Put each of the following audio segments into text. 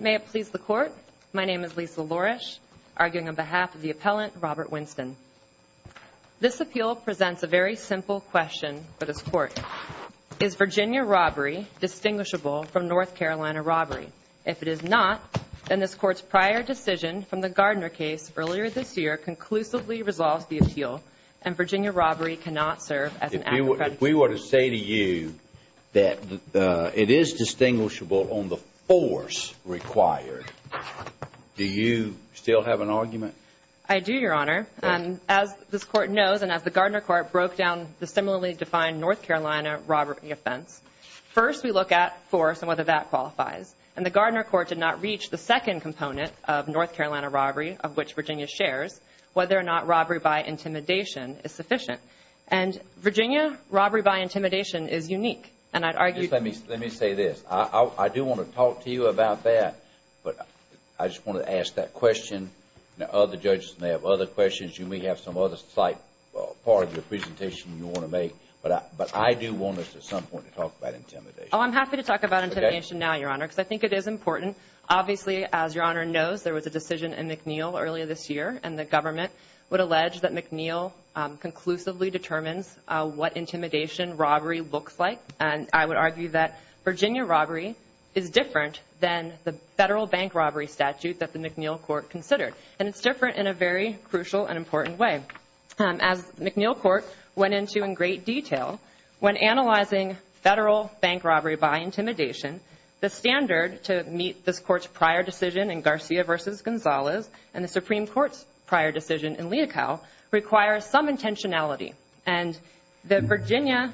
May it please the Court, my name is Lisa Lorish, arguing on behalf of the appellant Robert Winston. This appeal presents a very simple question for this Court. Is Virginia robbery distinguishable from North Carolina robbery? If it is not, then this Court's prior decision from the Gardner case earlier this year conclusively resolves the appeal, If we were to say to you that it is distinguishable on the force required, do you still have an argument? I do, Your Honor. As this Court knows, and as the Gardner Court broke down the similarly defined North Carolina robbery offense, first we look at force and whether that qualifies. And the Gardner Court did not reach the second component of North Carolina robbery, of which Virginia shares, whether or not robbery by intimidation is sufficient. And Virginia robbery by intimidation is unique, and I'd argue Let me say this. I do want to talk to you about that, but I just want to ask that question. Now, other judges may have other questions. You may have some other slight part of your presentation you want to make, but I do want us at some point to talk about intimidation. Oh, I'm happy to talk about intimidation now, Your Honor, because I think it is important. Obviously, as Your Honor knows, there was a decision in McNeil earlier this year, and the government would allege that McNeil conclusively determines what intimidation robbery looks like. And I would argue that Virginia robbery is different than the federal bank robbery statute that the McNeil Court considered, and it's different in a very crucial and important way. As McNeil Court went into in great detail, when analyzing federal bank robbery by intimidation, the standard to meet this Court's prior decision in Garcia v. Gonzalez and the Supreme Court's prior decision in Leocal requires some intentionality. And the Virginia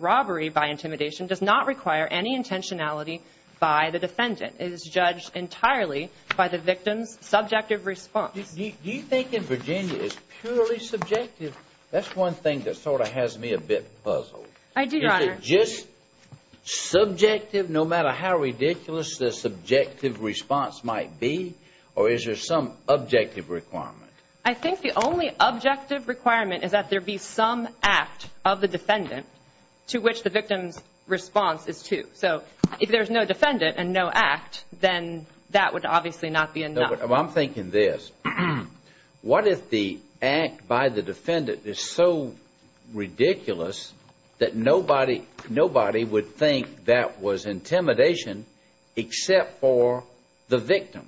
robbery by intimidation does not require any intentionality by the defendant. It is judged entirely by the victim's subjective response. Do you think in Virginia it's purely subjective? That's one thing that sort of has me a bit puzzled. I do, Your Honor. Is it just subjective no matter how ridiculous the subjective response might be, or is there some objective requirement? I think the only objective requirement is that there be some act of the defendant to which the victim's response is to. So if there's no defendant and no act, then that would obviously not be enough. I'm thinking this. What if the act by the defendant is so ridiculous that nobody would think that was intimidation except for the victim?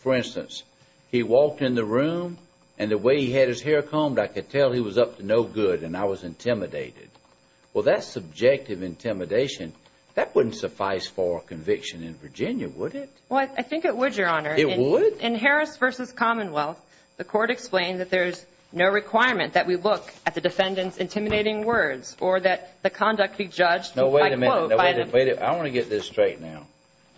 For instance, he walked in the room, and the way he had his hair combed, I could tell he was up to no good and I was intimidated. Well, that's subjective intimidation. That wouldn't suffice for a conviction in Virginia, would it? Well, I think it would, Your Honor. It would? In Harris v. Commonwealth, the court explained that there's no requirement that we look at the defendant's intimidating words or that the conduct be judged by quote. No, wait a minute. I want to get this straight now.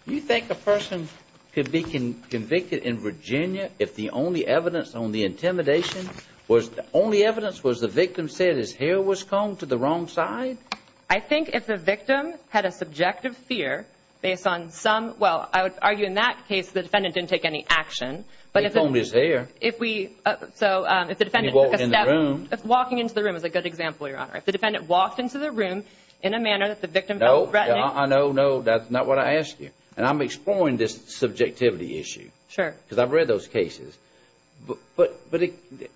You think a person could be convicted in Virginia if the only evidence on the intimidation was the only evidence was the victim said his hair was combed to the wrong side? I think if the victim had a subjective fear based on some – well, I would argue in that case the defendant didn't take any action. He combed his hair. If we – so if the defendant took a step. And he walked in the room. Walking into the room is a good example, Your Honor. If the defendant walked into the room in a manner that the victim felt threatening. No. I know, no. That's not what I asked you. And I'm exploring this subjectivity issue. Sure. Because I've read those cases. But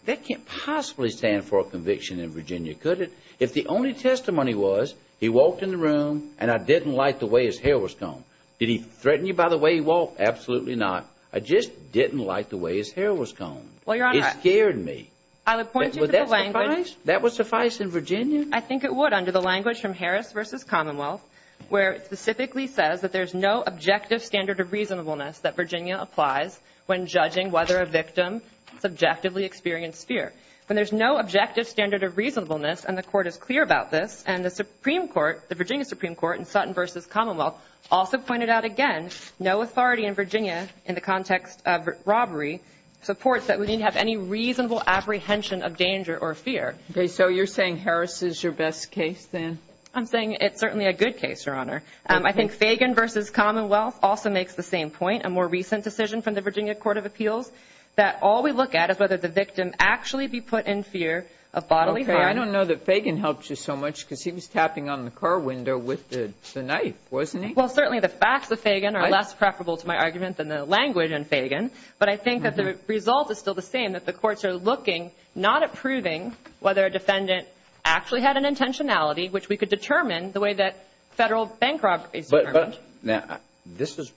that can't possibly stand for a conviction in Virginia, could it? If the only testimony was he walked in the room and I didn't like the way his hair was combed. Did he threaten you by the way he walked? Absolutely not. I just didn't like the way his hair was combed. Well, Your Honor. It scared me. I would point you to the language. Would that suffice? That would suffice in Virginia? I think it would under the language from Harris v. Commonwealth where it specifically says that there's no objective standard of reasonableness that Virginia applies when judging whether a victim subjectively experienced fear. And there's no objective standard of reasonableness. And the Court is clear about this. And the Supreme Court, the Virginia Supreme Court in Sutton v. Commonwealth also pointed out again no authority in Virginia in the context of robbery supports that we need to have any reasonable apprehension of danger or fear. Okay. So you're saying Harris is your best case then? I'm saying it's certainly a good case, Your Honor. I think Fagan v. Commonwealth also makes the same point, a more recent decision from the Virginia Court of Appeals, that all we look at is whether the victim actually be put in fear of bodily harm. Okay. I don't know that Fagan helped you so much because he was tapping on the car window with the knife, wasn't he? Well, certainly the facts of Fagan are less preferable to my argument than the language in Fagan. But I think that the result is still the same, that the courts are looking not at proving whether a defendant actually had an intentionality, which we could determine the way that federal bank robbery is determined. Now, this is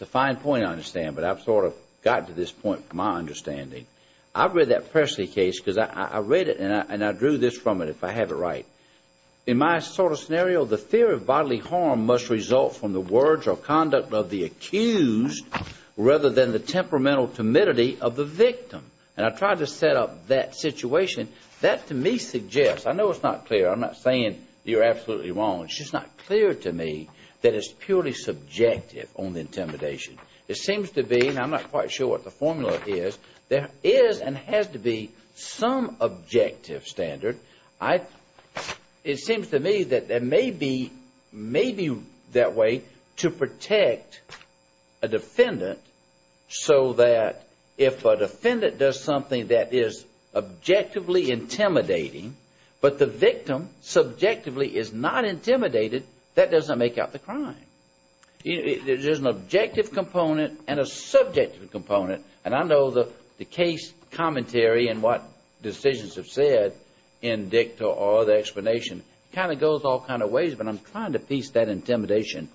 a fine point I understand, but I've sort of gotten to this point from my understanding. I've read that Pressley case because I read it and I drew this from it if I have it right. In my sort of scenario, the fear of bodily harm must result from the words or conduct of the accused rather than the temperamental timidity of the victim. And I tried to set up that situation. That to me suggests, I know it's not clear, I'm not saying you're absolutely wrong, it's just not clear to me that it's purely subjective on the intimidation. It seems to be, and I'm not quite sure what the formula is, there is and has to be some objective standard. It seems to me that there may be that way to protect a defendant so that if a defendant does something that is objectively intimidating, but the victim subjectively is not intimidated, that doesn't make out the crime. There's an objective component and a subjective component, and I know the case commentary and what decisions have said in dicta or the explanation kind of goes all kinds of ways, but I'm trying to piece that intimidation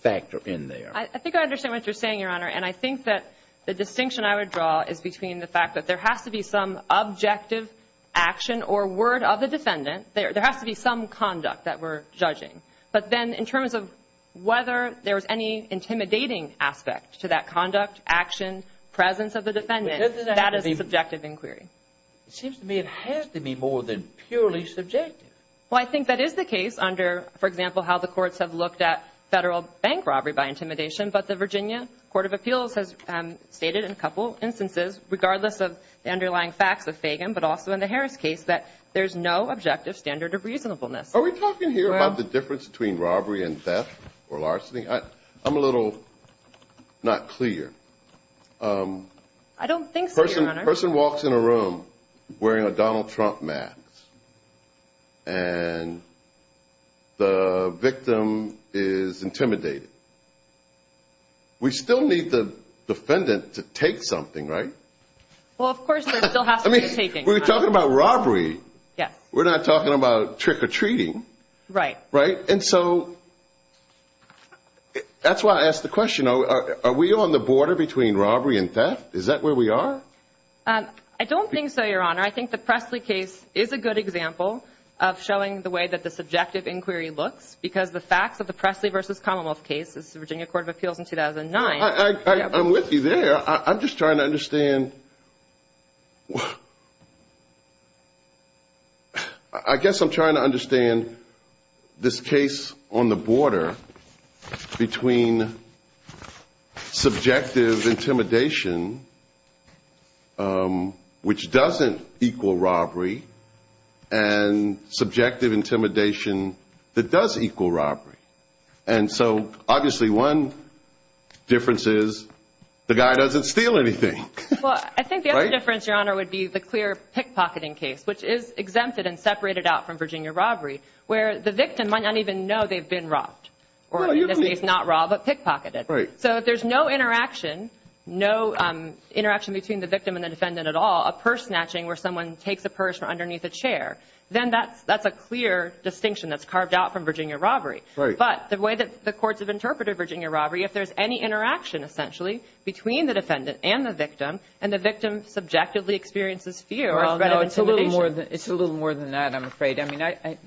factor in there. I think I understand what you're saying, Your Honor, and I think that the distinction I would draw is between the fact that there has to be some objective action or word of the defendant. There has to be some conduct that we're judging. But then in terms of whether there's any intimidating aspect to that conduct, action, presence of the defendant, that is a subjective inquiry. It seems to me it has to be more than purely subjective. Well, I think that is the case under, for example, how the courts have looked at federal bank robbery by intimidation, but the Virginia Court of Appeals has stated in a couple instances, regardless of the underlying facts of Fagan, but also in the Harris case, that there's no objective standard of reasonableness. Are we talking here about the difference between robbery and theft or larceny? I'm a little not clear. I don't think so, Your Honor. A person walks in a room wearing a Donald Trump mask, and the victim is intimidated. We still need the defendant to take something, right? Well, of course, there still has to be a taking. We're talking about robbery. Yes. We're not talking about trick-or-treating. Right. Right? And so that's why I asked the question. Are we on the border between robbery and theft? Is that where we are? I don't think so, Your Honor. I think the Pressley case is a good example of showing the way that the subjective inquiry looks because the facts of the Pressley v. Commonwealth case, this is the Virginia Court of Appeals in 2009. I'm with you there. I'm just trying to understand. I guess I'm trying to understand this case on the border between subjective intimidation, which doesn't equal robbery, and subjective intimidation that does equal robbery. And so, obviously, one difference is the guy doesn't steal anything. Well, I think the other difference, Your Honor, would be the clear pickpocketing case, which is exempted and separated out from Virginia robbery, where the victim might not even know they've been robbed. Or in this case, not robbed, but pickpocketed. Right. So if there's no interaction, no interaction between the victim and the defendant at all, a purse snatching where someone takes a purse from underneath a chair, then that's a clear distinction that's carved out from Virginia robbery. Right. But the way that the courts have interpreted Virginia robbery, if there's any interaction, essentially, between the defendant and the victim, and the victim subjectively experiences fear or threat of intimidation. Well, no, it's a little more than that, I'm afraid. I mean,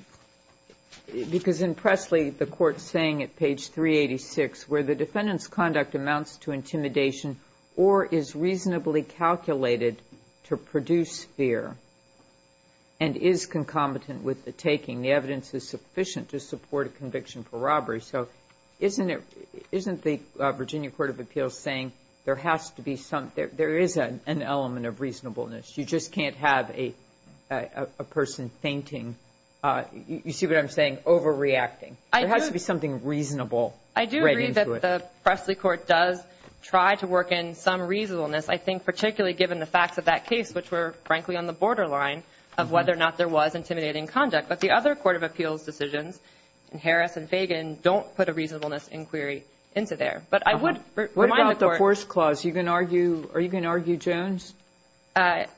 because in Presley, the court's saying at page 386, where the defendant's conduct amounts to intimidation or is reasonably calculated to produce fear and is concomitant with the taking, the evidence is sufficient to support a conviction for robbery. So isn't the Virginia Court of Appeals saying there is an element of reasonableness? You just can't have a person fainting. You see what I'm saying? Overreacting. There has to be something reasonable. I do agree that the Presley court does try to work in some reasonableness. I think particularly given the facts of that case, which were, frankly, on the borderline of whether or not there was intimidating conduct. But the other court of appeals decisions, Harris and Fagan, don't put a reasonableness inquiry into there. But I would remind the court. What about the force clause? Are you going to argue Jones?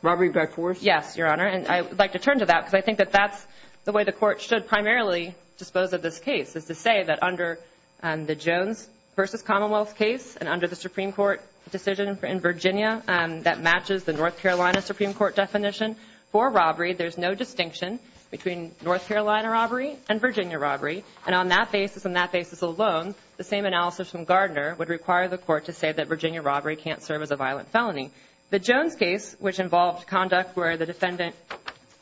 Robbery by force? Yes, Your Honor. And I would like to turn to that because I think that that's the way the court should primarily dispose of this case, is to say that under the Jones v. Commonwealth case and under the Supreme Court decision in Virginia that matches the North Carolina Supreme Court definition for robbery, there's no distinction between North Carolina robbery and Virginia robbery. And on that basis and that basis alone, the same analysis from Gardner would require the court to say that Virginia robbery can't serve as a violent felony. The Jones case, which involved conduct where the defendant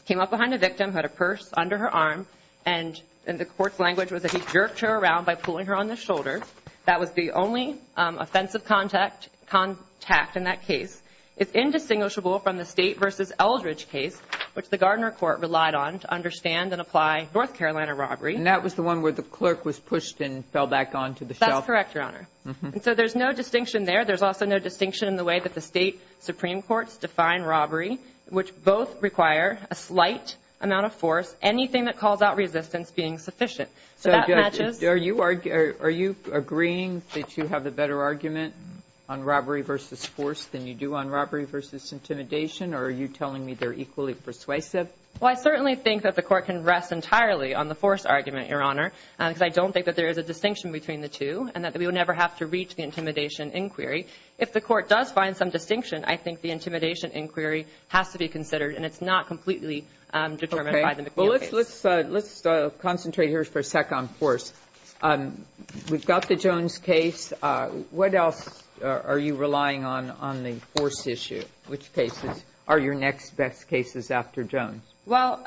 came up behind a victim, had a purse under her arm, and the court's language was that he jerked her around by pulling her on the shoulder. That was the only offensive contact in that case. It's indistinguishable from the State v. Eldridge case, which the Gardner court relied on to understand and apply North Carolina robbery. And that was the one where the clerk was pushed and fell back onto the shelf. That's correct, Your Honor. And so there's no distinction there. There's also no distinction in the way that the State Supreme Courts define robbery, which both require a slight amount of force, anything that calls out resistance being sufficient. So that matches. Are you agreeing that you have a better argument on robbery v. force than you do on robbery v. intimidation? Or are you telling me they're equally persuasive? Well, I certainly think that the court can rest entirely on the force argument, Your Honor, because I don't think that there is a distinction between the two and that we would never have to reach the intimidation inquiry. If the court does find some distinction, I think the intimidation inquiry has to be considered, and it's not completely determined by the McNeil case. Okay. Well, let's concentrate here for a sec on force. We've got the Jones case. What else are you relying on on the force issue? Which cases? Are your next best cases after Jones? Well,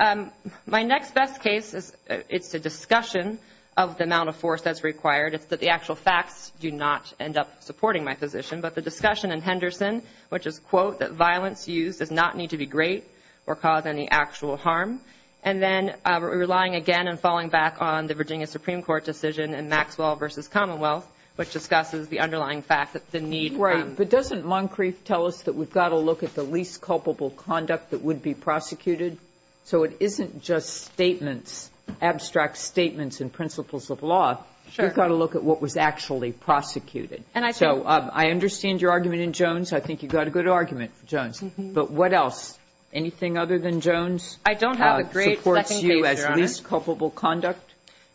my next best case, it's a discussion of the amount of force that's required. It's that the actual facts do not end up supporting my position, but the discussion in Henderson, which is, quote, that violence used does not need to be great or cause any actual harm. And then we're relying again and falling back on the Virginia Supreme Court decision in Maxwell v. Commonwealth, which discusses the underlying fact that the need. Right. But doesn't Moncrief tell us that we've got to look at the least culpable conduct that would be prosecuted? So it isn't just statements, abstract statements and principles of law. You've got to look at what was actually prosecuted. So I understand your argument in Jones. I think you've got a good argument, Jones. But what else? I don't have a great second case, Your Honor. The least culpable conduct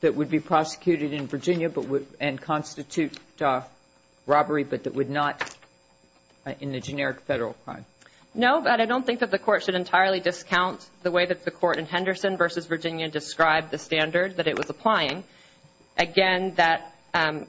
that would be prosecuted in Virginia and constitute robbery, but that would not in the generic federal crime. No, but I don't think that the court should entirely discount the way that the court in Henderson v. Virginia described the standard that it was applying. Again, that, and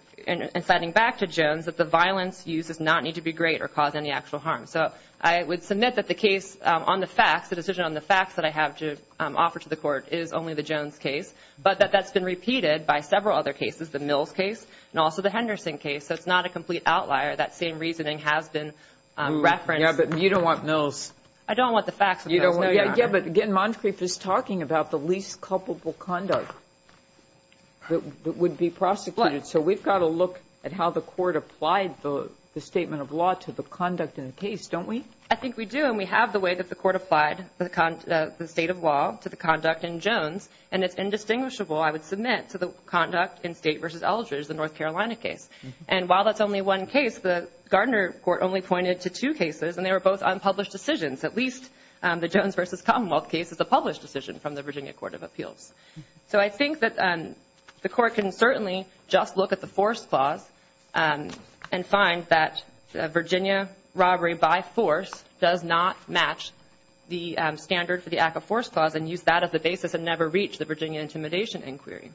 citing back to Jones, that the violence used does not need to be great or cause any actual harm. So I would submit that the case on the facts, the decision on the facts that I have to offer to the court, is only the Jones case, but that that's been repeated by several other cases, the Mills case, and also the Henderson case. So it's not a complete outlier. That same reasoning has been referenced. Yeah, but you don't want Mills. I don't want the facts, Your Honor. Yeah, but again, Moncrief is talking about the least culpable conduct that would be prosecuted. So we've got to look at how the court applied the statement of law to the conduct in the case, don't we? I think we do, and we have the way that the court applied the state of law to the conduct in Jones, and it's indistinguishable, I would submit, to the conduct in State v. Eldridge, the North Carolina case. And while that's only one case, the Gardner court only pointed to two cases, and they were both unpublished decisions. At least the Jones v. Commonwealth case is a published decision from the Virginia Court of Appeals. So I think that the court can certainly just look at the force clause and find that Virginia robbery by force does not match the standard for the act of force clause and use that as the basis and never reach the Virginia intimidation inquiry.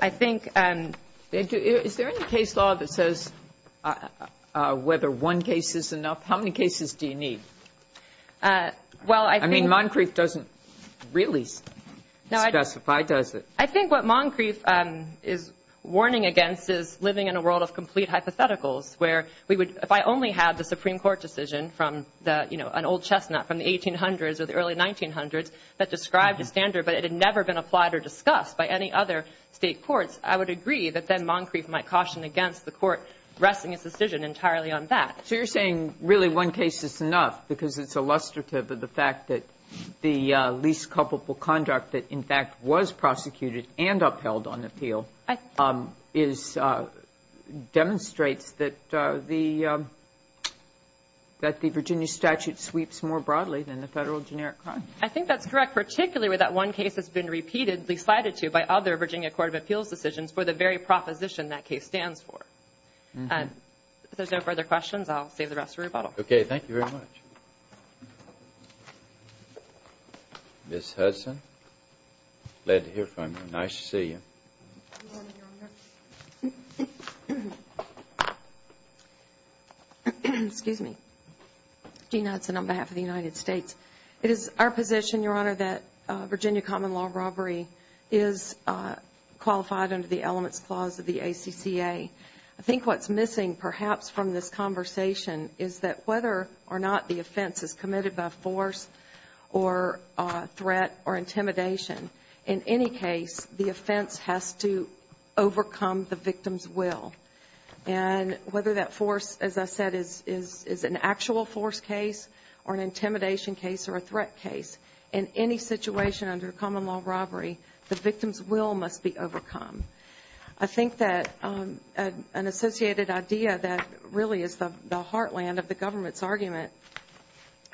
I think they do. Is there any case law that says whether one case is enough? How many cases do you need? I mean, Moncrief doesn't really specify, does it? I think what Moncrief is warning against is living in a world of complete hypotheticals where we would, if I only had the Supreme Court decision from the, you know, an old chestnut from the 1800s or the early 1900s that described a standard, but it had never been applied or discussed by any other State courts, I would agree that then Moncrief might caution against the court resting its decision entirely on that. So you're saying really one case is enough because it's illustrative of the fact that the least culpable conduct that, in fact, was prosecuted and upheld on appeal demonstrates that the Virginia statute sweeps more broadly than the federal generic crime. I think that's correct, particularly where that one case has been repeatedly cited to by other Virginia Court of Appeals decisions for the very proposition that case stands for. If there's no further questions, I'll save the rest for rebuttal. Okay. Thank you very much. Ms. Hudson, glad to hear from you. Nice to see you. Excuse me. Jean Hudson on behalf of the United States. It is our position, Your Honor, that Virginia common law robbery is qualified under the perhaps from this conversation is that whether or not the offense is committed by force or threat or intimidation, in any case, the offense has to overcome the victim's will. And whether that force, as I said, is an actual force case or an intimidation case or a threat case, in any situation under common law robbery, the victim's will must be overcome. I think that an associated idea that really is the heartland of the government's argument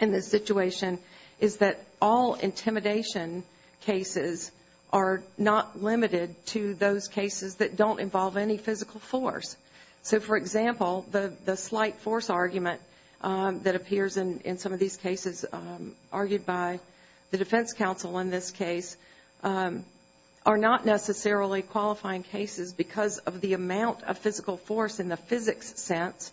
in this situation is that all intimidation cases are not limited to those cases that don't involve any physical force. So, for example, the slight force argument that appears in some of these cases argued by the defense counsel in this case are not necessarily qualifying cases because of the amount of physical force in the physics sense,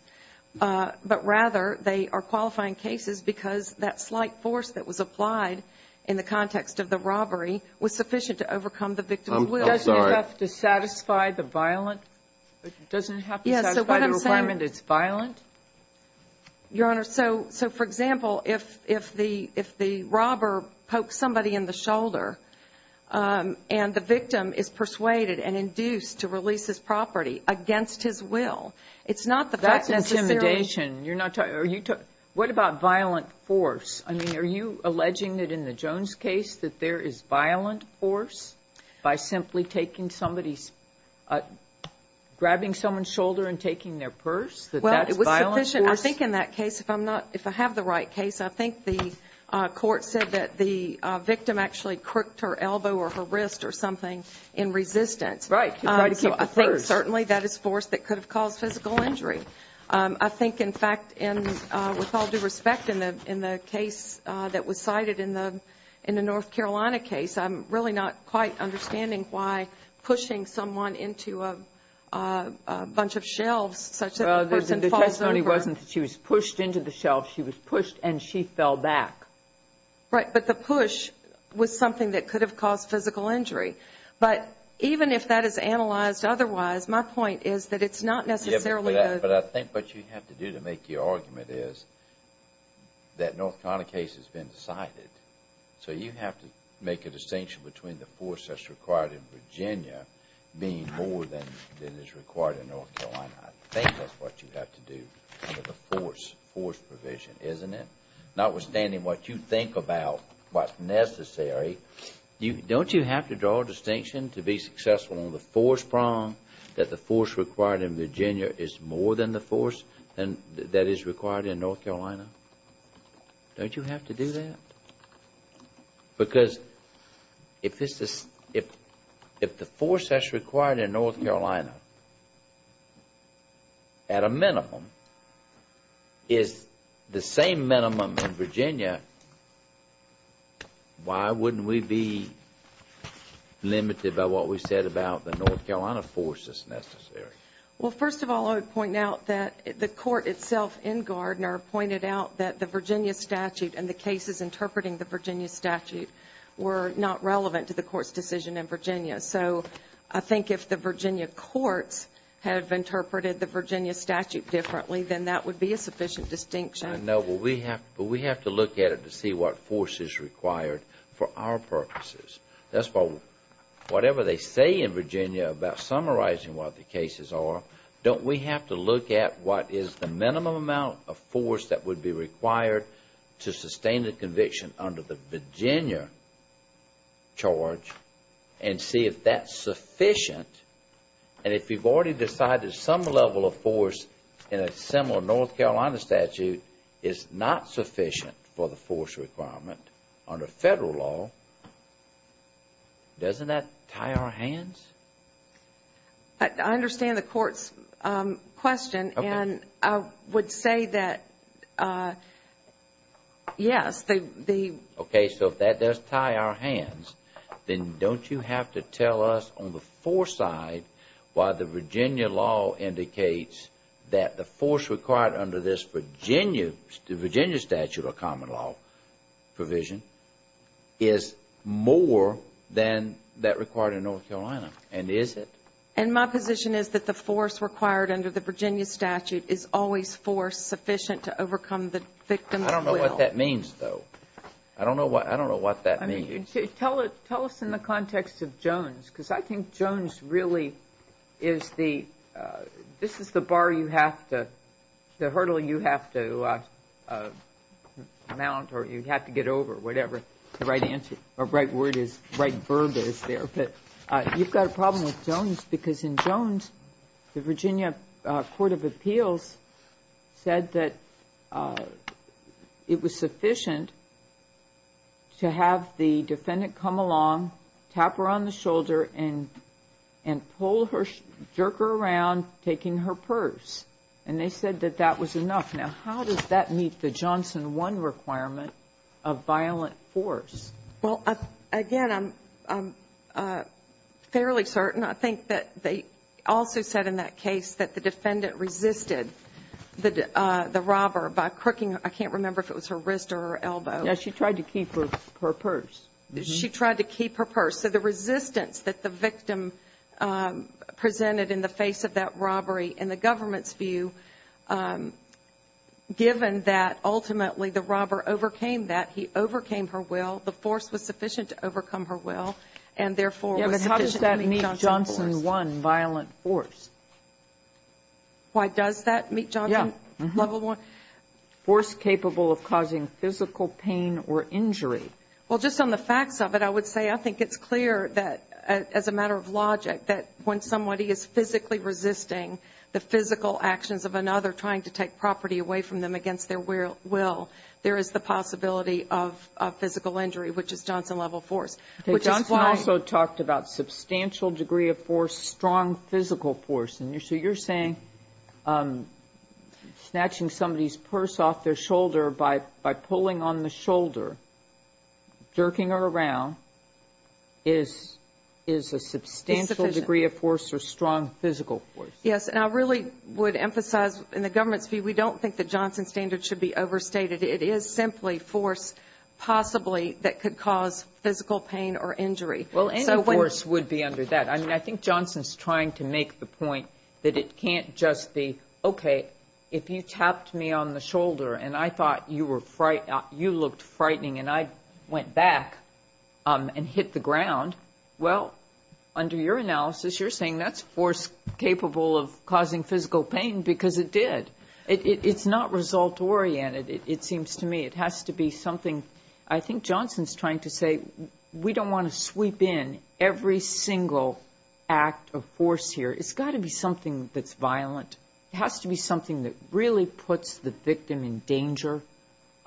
but rather they are qualifying cases because that slight force that was applied in the context of the robbery was sufficient to overcome the victim's will. Doesn't it have to satisfy the violent? Doesn't it have to satisfy the requirement it's violent? Your Honor, so, for example, if the robber pokes somebody in the shoulder and the victim is persuaded and induced to release his property against his will, it's not the fact necessarily That's intimidation. What about violent force? I mean, are you alleging that in the Jones case that there is violent force by simply grabbing someone's shoulder and taking their purse, that that's violent force? Well, it was sufficient. I think in that case, if I have the right case, I think the court said that the victim actually crooked her elbow or her wrist or something in resistance. Right, to try to keep the purse. So I think certainly that is force that could have caused physical injury. I think, in fact, with all due respect, in the case that was cited in the North Carolina case, I'm really not quite understanding why pushing someone into a bunch of shelves such that the person falls over The testimony wasn't that she was pushed into the shelves. She was pushed and she fell back. Right, but the push was something that could have caused physical injury. But even if that is analyzed otherwise, my point is that it's not necessarily But I think what you have to do to make your argument is that North Carolina case has been decided. So you have to make a distinction between the force that's required in Virginia being more than is required in North Carolina. I think that's what you have to do under the force provision, isn't it? Notwithstanding what you think about what's necessary, don't you have to draw a distinction to be successful on the force prong that the force required in Virginia is more than the force that is required in North Carolina? Don't you have to do that? Because if the force that's required in North Carolina, at a minimum, is the same minimum in Virginia, why wouldn't we be limited by what we said about the North Carolina force that's necessary? Well, first of all, I would point out that the court itself in Gardner pointed out that the Virginia statute and the cases interpreting the Virginia statute were not relevant to the court's decision in Virginia. So I think if the Virginia courts have interpreted the Virginia statute differently, then that would be a sufficient distinction. I know, but we have to look at it to see what force is required for our purposes. That's why whatever they say in Virginia about summarizing what the cases are, don't we have to look at what is the minimum amount of force that would be required to sustain a conviction under the Virginia charge and see if that's sufficient. And if you've already decided some level of force in a similar North Carolina statute is not sufficient for the force requirement under Federal law, doesn't that tie our hands? I understand the court's question, and I would say that yes. Okay, so if that does tie our hands, then don't you have to tell us on the foreside why the Virginia law indicates that the force required under this Virginia statute or common law provision is more than that required in North Carolina? And is it? And my position is that the force required under the Virginia statute is always force sufficient to overcome the victim's will. I don't know what that means, though. I don't know what that means. Tell us in the context of Jones, because I think Jones really is the, this is the bar you have to, the hurdle you have to mount or you have to get over, whatever the right word is, right verb is there. But you've got a problem with Jones because in Jones, the Virginia court of appeals said that it was sufficient to have the defendant come along, tap her on the shoulder, and pull her, jerk her around, taking her purse. And they said that that was enough. Now, how does that meet the Johnson 1 requirement of violent force? Well, again, I'm fairly certain. I think that they also said in that case that the defendant resisted the robber by crooking, I can't remember if it was her wrist or her elbow. Yes, she tried to keep her purse. She tried to keep her purse. So the resistance that the victim presented in the face of that robbery in the government's view, given that ultimately the robber overcame that, he overcame her will, the force was sufficient to overcome her will, and therefore was sufficient to meet Johnson's force. Yes, but how does that meet Johnson 1, violent force? Why does that meet Johnson level 1? Force capable of causing physical pain or injury. Well, just on the facts of it, I would say I think it's clear that as a matter of logic, that when somebody is physically resisting the physical actions of another trying to take property away from them against their will, there is the possibility of physical injury, which is Johnson level force. Johnson also talked about substantial degree of force, strong physical force. So you're saying snatching somebody's purse off their shoulder by pulling on the shoulder, jerking her around, is a substantial degree of force or strong physical force? Yes, and I really would emphasize in the government's view, we don't think that Johnson standard should be overstated. It is simply force possibly that could cause physical pain or injury. Well, any force would be under that. I mean, I think Johnson's trying to make the point that it can't just be, okay, if you tapped me on the shoulder and I thought you looked frightening and I went back and hit the ground, well, under your analysis, you're saying that's force capable of causing physical pain because it did. It's not result-oriented, it seems to me. It has to be something. I think Johnson's trying to say we don't want to sweep in every single act of force here. It's got to be something that's violent. It has to be something that really puts the victim in danger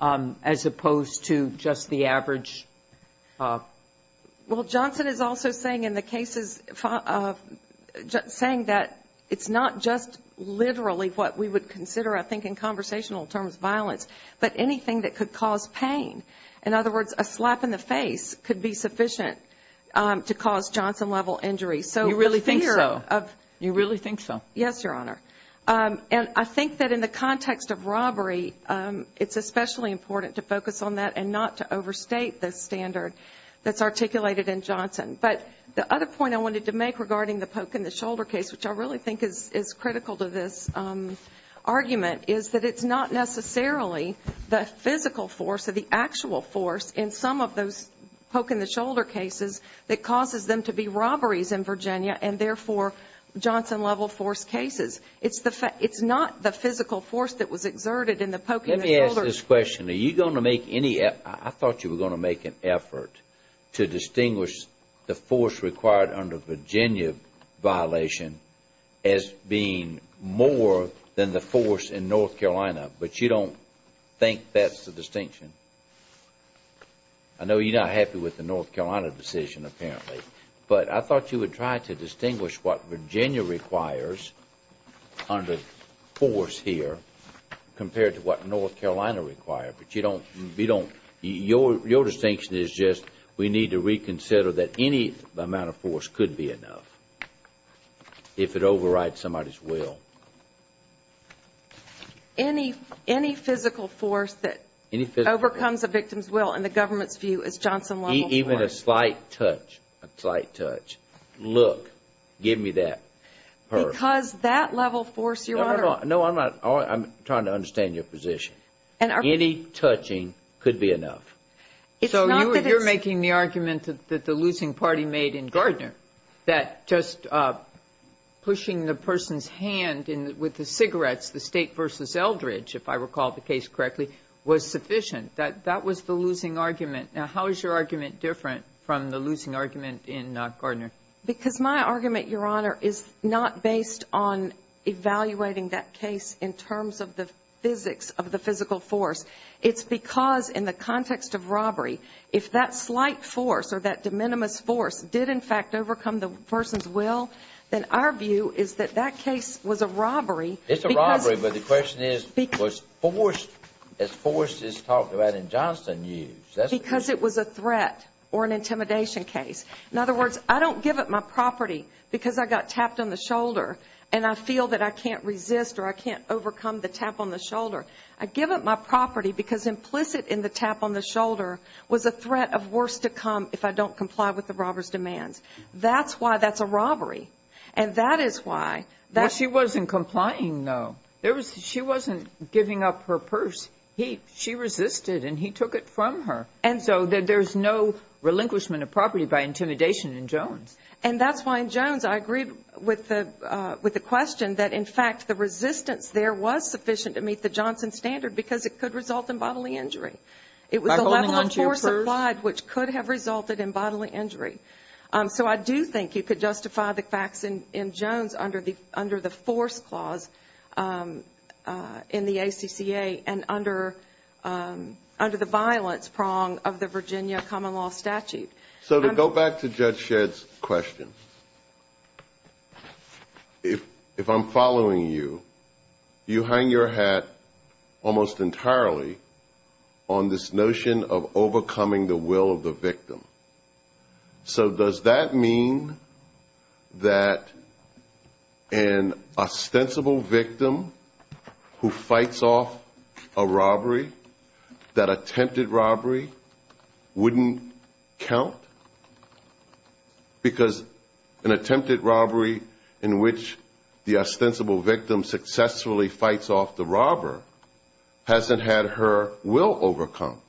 as opposed to just the average. Well, Johnson is also saying in the cases, saying that it's not just literally what we would consider, I think, in conversational terms, violence, but anything that could cause pain. In other words, a slap in the face could be sufficient to cause Johnson-level injury. You really think so? Yes, Your Honor. And I think that in the context of robbery, it's especially important to focus on that and not to overstate the standard that's articulated in Johnson. But the other point I wanted to make regarding the poke in the shoulder case, which I really think is critical to this argument, is that it's not necessarily the physical force or the actual force in some of those poke in the shoulder cases that causes them to be robberies in Virginia and, therefore, Johnson-level force cases. It's not the physical force that was exerted in the poke in the shoulders. Let me ask this question. Are you going to make any effort? I thought you were going to make an effort to distinguish the force required under Virginia violation as being more than the force in North Carolina. But you don't think that's the distinction? I know you're not happy with the North Carolina decision, apparently. But I thought you would try to distinguish what Virginia requires under force here compared to what North Carolina requires. But your distinction is just we need to reconsider that any amount of force could be enough if it overrides somebody's will. Any physical force that overcomes a victim's will in the government's view is Johnson-level force. Even a slight touch, a slight touch. Look, give me that purse. Because that level force, Your Honor. No, I'm trying to understand your position. Any touching could be enough. That just pushing the person's hand with the cigarettes, the state versus Eldridge, if I recall the case correctly, was sufficient. That was the losing argument. Now, how is your argument different from the losing argument in Gardner? Because my argument, Your Honor, is not based on evaluating that case in terms of the physics of the physical force. It's because in the context of robbery, if that slight force or that de minimis force did in fact overcome the person's will, then our view is that that case was a robbery. It's a robbery. But the question is, was force as force is talked about in Johnson used? Because it was a threat or an intimidation case. In other words, I don't give up my property because I got tapped on the shoulder and I feel that I can't resist or I can't overcome the tap on the shoulder. I give up my property because implicit in the tap on the shoulder was a threat of worse to come if I don't comply with the robber's demands. That's why that's a robbery. And that is why. Well, she wasn't complying, though. She wasn't giving up her purse. She resisted and he took it from her. And so there's no relinquishment of property by intimidation in Jones. And that's why in Jones I agree with the question that, in fact, the resistance there was sufficient to meet the Johnson standard because it could result in bodily injury. It was a level of force applied which could have resulted in bodily injury. So I do think you could justify the facts in Jones under the force clause in the ACCA and under the violence prong of the Virginia common law statute. So to go back to Judge Shedd's question, if I'm following you, you hang your hat almost entirely on this notion of overcoming the will of the victim. So does that mean that an ostensible victim who fights off a robbery, that attempted robbery, wouldn't count? Because an attempted robbery in which the ostensible victim successfully fights off the robber hasn't had her will overcome.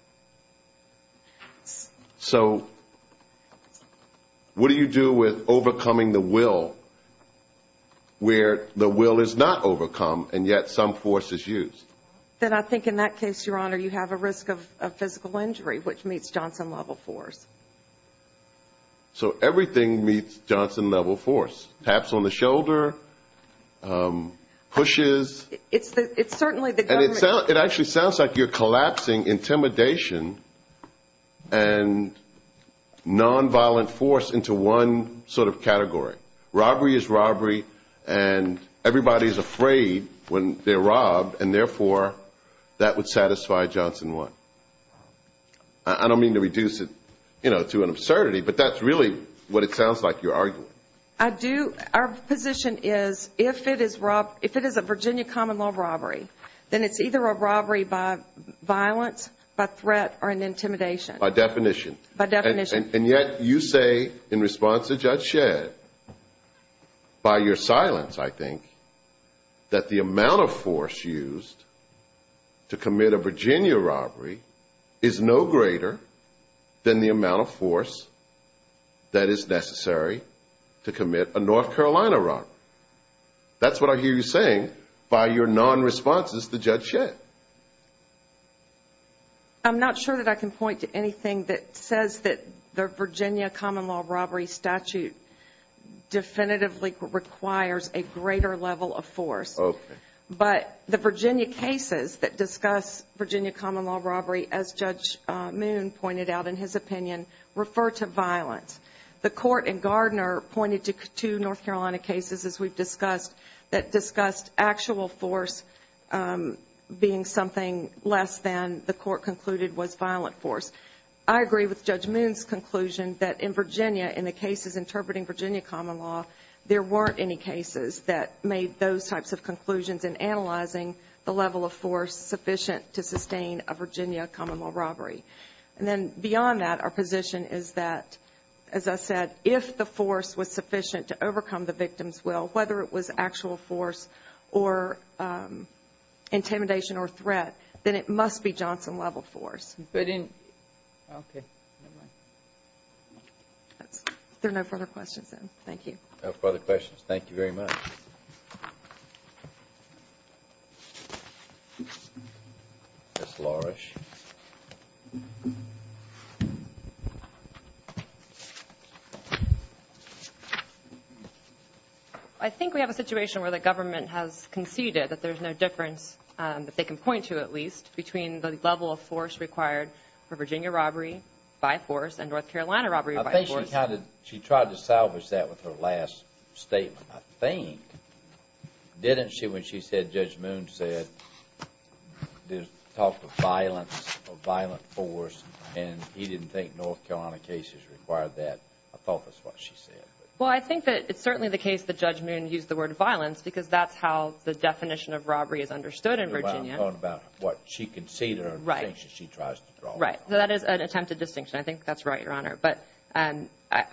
So what do you do with overcoming the will where the will is not overcome and yet some force is used? Then I think in that case, Your Honor, you have a risk of physical injury which meets Johnson level force. So everything meets Johnson level force, taps on the shoulder, pushes. And it actually sounds like you're collapsing intimidation and nonviolent force into one sort of category. Robbery is robbery and everybody is afraid when they're robbed and therefore that would satisfy Johnson 1. I don't mean to reduce it to an absurdity, but that's really what it sounds like you're arguing. I do. Our position is if it is a Virginia common law robbery, then it's either a robbery by violence, by threat or an intimidation. By definition. And yet you say in response to Judge Shedd, by your silence I think, that the amount of force used to commit a Virginia robbery is no greater than the amount of force that is necessary to commit a Virginia common law robbery. That's what I hear you saying by your non-responses to Judge Shedd. I'm not sure that I can point to anything that says that the Virginia common law robbery statute definitively requires a greater level of force. But the Virginia cases that discuss Virginia common law robbery, as Judge Moon pointed out in his opinion, refer to violence. The court in Gardner pointed to two North Carolina cases, as we've discussed, that discussed actual force being something less than the court concluded was violent force. I agree with Judge Moon's conclusion that in Virginia, in the cases interpreting Virginia common law, there weren't any cases that made those types of conclusions in analyzing the level of force sufficient to sustain a Virginia common law robbery. And then beyond that, our position is that, as I said, if the force was sufficient to overcome the victim's will, whether it was actual force or intimidation or threat, then it must be Johnson level force. There are no further questions then. Thank you. No further questions. Thank you very much. I think we have a situation where the government has conceded that there's no difference, if they can point to at least, between the level of force required for Virginia robbery by force and North Carolina robbery by force. I think she tried to salvage that with her last statement, I think. Didn't she, when she said, Judge Moon said, talked of violence or violent force, and he didn't think North Carolina cases required that? I thought that's what she said. Well, I think that it's certainly the case that Judge Moon used the word violence, because that's how the definition of robbery is understood in Virginia. Well, I'm talking about what she conceded or the distinction she tries to draw.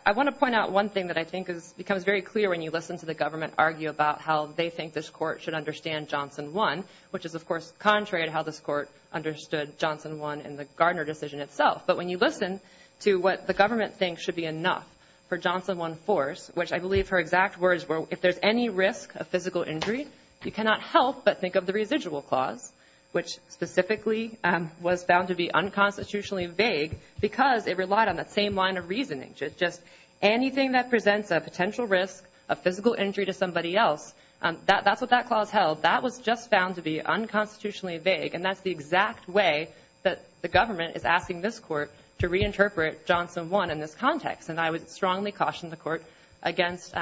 I want to point out one thing that I think becomes very clear when you listen to the government argue about how they think this court should understand Johnson 1, which is, of course, contrary to how this court understood Johnson 1 in the Gardner decision itself. But when you listen to what the government thinks should be enough for Johnson 1 force, which I believe her exact words were, if there's any risk of physical injury, you cannot help but think of the residual clause, which specifically was found to be unconstitutionally vague, because it relied on that same line of reasoning. It's just anything that presents a potential risk of physical injury to somebody else, that's what that clause held. That was just found to be unconstitutionally vague, and that's the exact way that the government is asking this court to reinterpret Johnson 1 in this context. And I would strongly caution the court against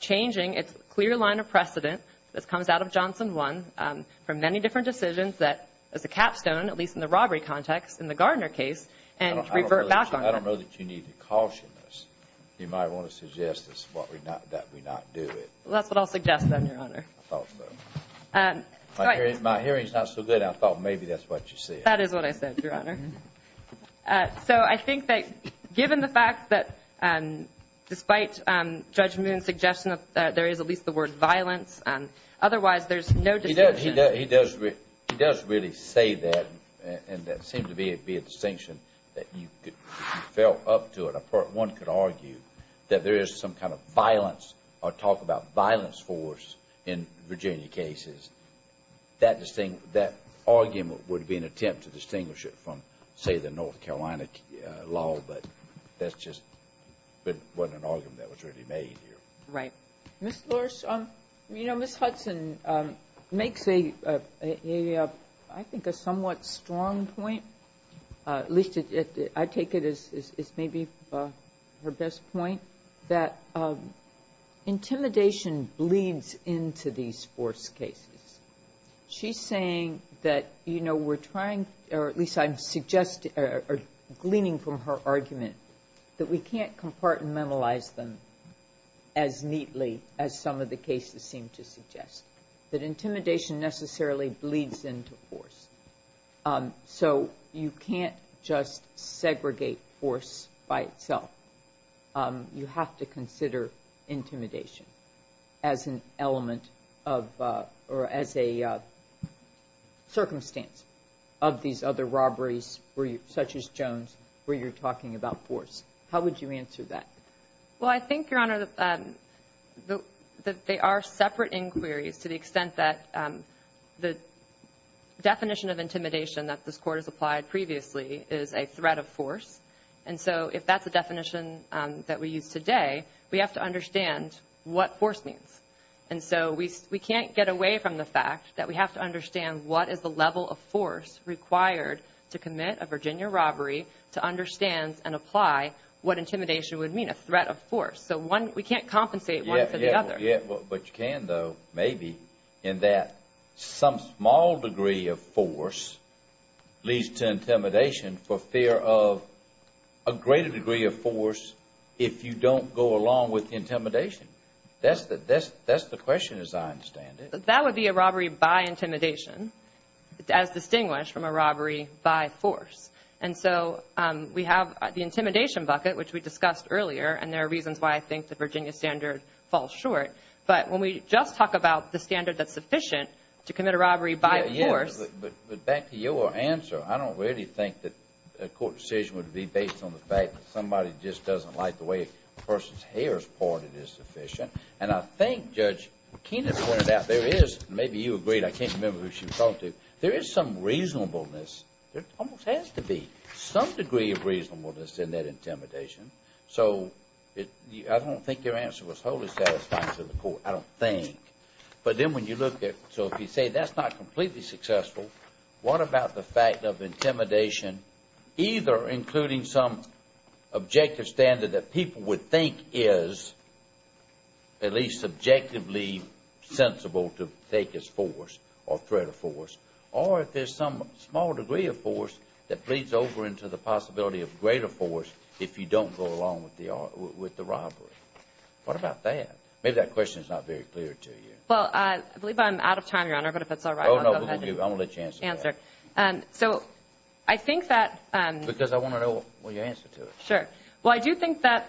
changing its clear line of precedent that comes out of Johnson 1 for many different decisions that is a capstone, at least in the robbery context in the Gardner case, and revert back on it. I don't know that you need to caution us. You might want to suggest that we not do it. Well, that's what I'll suggest, then, Your Honor. I thought so. My hearing's not so good. I thought maybe that's what you said. That is what I said, Your Honor. So I think that given the fact that despite Judge Moon's suggestion that there is at least the word violence, otherwise there's no distinction. He does really say that, and that seemed to be a distinction that you fell up to it. One could argue that there is some kind of violence or talk about violence force in Virginia cases. That argument would be an attempt to distinguish it from, say, the North Carolina law, but that just wasn't an argument that was really made here. Right. Ms. Lorsch, you know, Ms. Hudson makes a, I think, a somewhat strong point, at least I take it as maybe her best point, that intimidation bleeds into these force cases. She's saying that, you know, we're trying, or at least I'm suggesting, or gleaning from her argument, that we can't compartmentalize them as neatly as some of the cases seem to suggest. That intimidation necessarily bleeds into force. So you can't just segregate force by itself. You have to consider intimidation as an element of, or as a circumstance of these other robberies, such as Jones, where you're talking about force. How would you answer that? Well, I think, Your Honor, that they are separate inquiries to the extent that the definition of intimidation that this Court has applied previously is a threat of force. And so if that's the definition that we use today, we have to understand what force means. And so we can't get away from the fact that we have to understand what is the level of force required to commit a Virginia robbery to understand and apply what intimidation would mean, a threat of force. So one, we can't compensate one for the other. Not yet, but you can, though, maybe, in that some small degree of force leads to intimidation for fear of a greater degree of force if you don't go along with intimidation. That's the question, as I understand it. That would be a robbery by intimidation, as distinguished from a robbery by force. And so we have the intimidation bucket, which we discussed earlier, and there are reasons why I think the Virginia standard falls short. But when we just talk about the standard that's sufficient to commit a robbery by force. But back to your answer, I don't really think that a court decision would be based on the fact that somebody just doesn't like the way a person's hair is parted is sufficient. And I think, Judge Keenan pointed out, there is, maybe you agreed, I can't remember who she was talking to, there is some reasonableness, there almost has to be some degree of reasonableness in that intimidation. So I don't think your answer was wholly satisfying to the court, I don't think. But then when you look at, so if you say that's not completely successful, what about the fact of intimidation, either including some objective standard that people would think is at least subjectively sensible to take as force or threat of force, or if there's some small degree of force that bleeds over into the possibility of greater force if you don't go along with the robbery. What about that? Maybe that question is not very clear to you. Well, I believe I'm out of time, Your Honor, but if it's all right, I'll go ahead. Oh, no, I won't let you answer that. Answer. So I think that... Because I want to know what your answer to it. Sure. Well, I do think that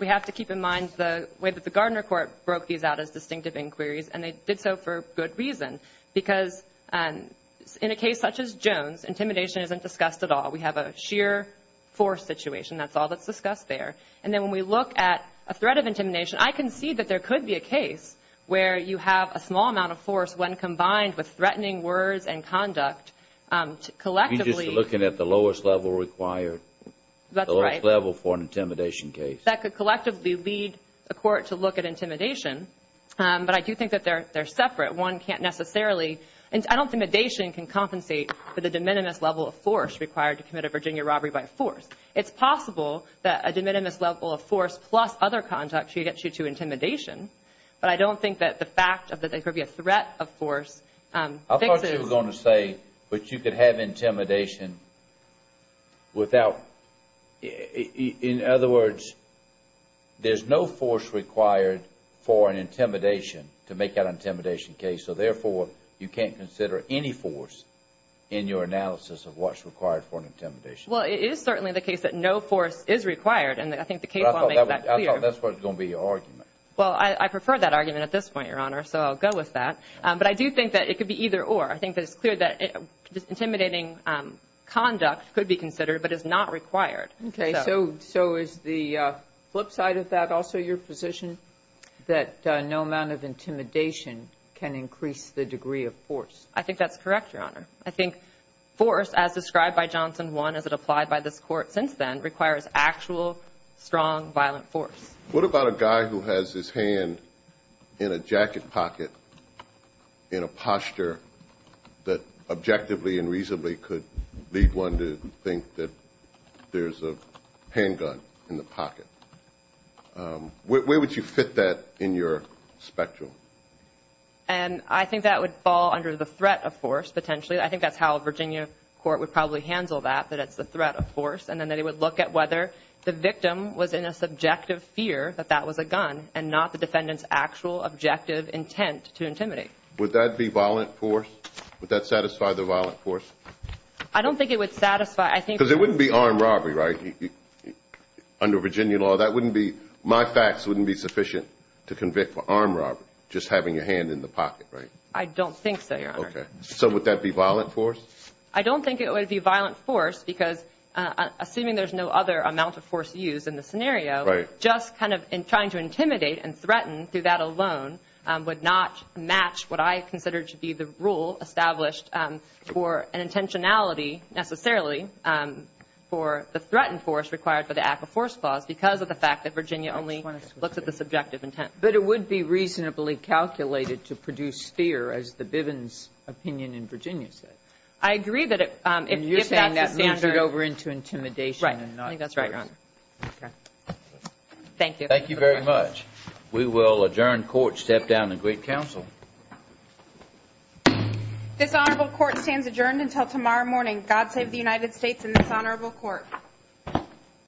we have to keep in mind the way that the Gardner court broke these out as distinctive inquiries, and they did so for good reason. Because in a case such as Jones, intimidation isn't discussed at all. We have a sheer force situation. That's all that's discussed there. And then when we look at a threat of intimidation, I can see that there could be a case where you have a small amount of force when combined with threatening words and conduct collectively. You're just looking at the lowest level required. That's right. The lowest level for an intimidation case. That could collectively lead a court to look at intimidation, but I do think that they're separate. One can't necessarily... I don't think intimidation can compensate for the de minimis level of force required to commit a Virginia robbery by force. It's possible that a de minimis level of force plus other conduct should get you to intimidation, but I don't think that the fact that there could be a threat of force fixes... I thought you were going to say that you could have intimidation without... In other words, there's no force required for an intimidation to make that intimidation case. So, therefore, you can't consider any force in your analysis of what's required for an intimidation. Well, it is certainly the case that no force is required, and I think the case will make that clear. I thought that was going to be your argument. Well, I prefer that argument at this point, Your Honor, so I'll go with that. But I do think that it could be either or. I think that it's clear that intimidating conduct could be considered but is not required. Okay. So is the flip side of that also your position, that no amount of intimidation can increase the degree of force? I think that's correct, Your Honor. I think force, as described by Johnson 1 as it applied by this Court since then, requires actual, strong, violent force. What about a guy who has his hand in a jacket pocket in a posture that objectively and reasonably could lead one to think that there's a handgun in the pocket? Where would you fit that in your spectrum? I think that would fall under the threat of force, potentially. I think that's how a Virginia court would probably handle that, that it's the threat of force, and then they would look at whether the victim was in a subjective fear that that was a gun and not the defendant's actual objective intent to intimidate. Would that be violent force? Would that satisfy the violent force? I don't think it would satisfy. Because it wouldn't be armed robbery, right, under Virginia law. My facts wouldn't be sufficient to convict for armed robbery, just having a hand in the pocket, right? I don't think so, Your Honor. Okay. So would that be violent force? I don't think it would be violent force because, assuming there's no other amount of force used in the scenario, just kind of trying to intimidate and threaten through that alone would not match what I consider to be the rule established for an intentionality, necessarily, for the threatened force required for the act of force clause because of the fact that Virginia only looks at the subjective intent. But it would be reasonably calculated to produce fear, as the Bivens opinion in Virginia said. I agree that if that's a standard over into intimidation and not force. Right. I think that's right, Your Honor. Okay. Thank you. Thank you very much. We will adjourn court, step down, and greet counsel. This honorable court stands adjourned until tomorrow morning. God save the United States and this honorable court.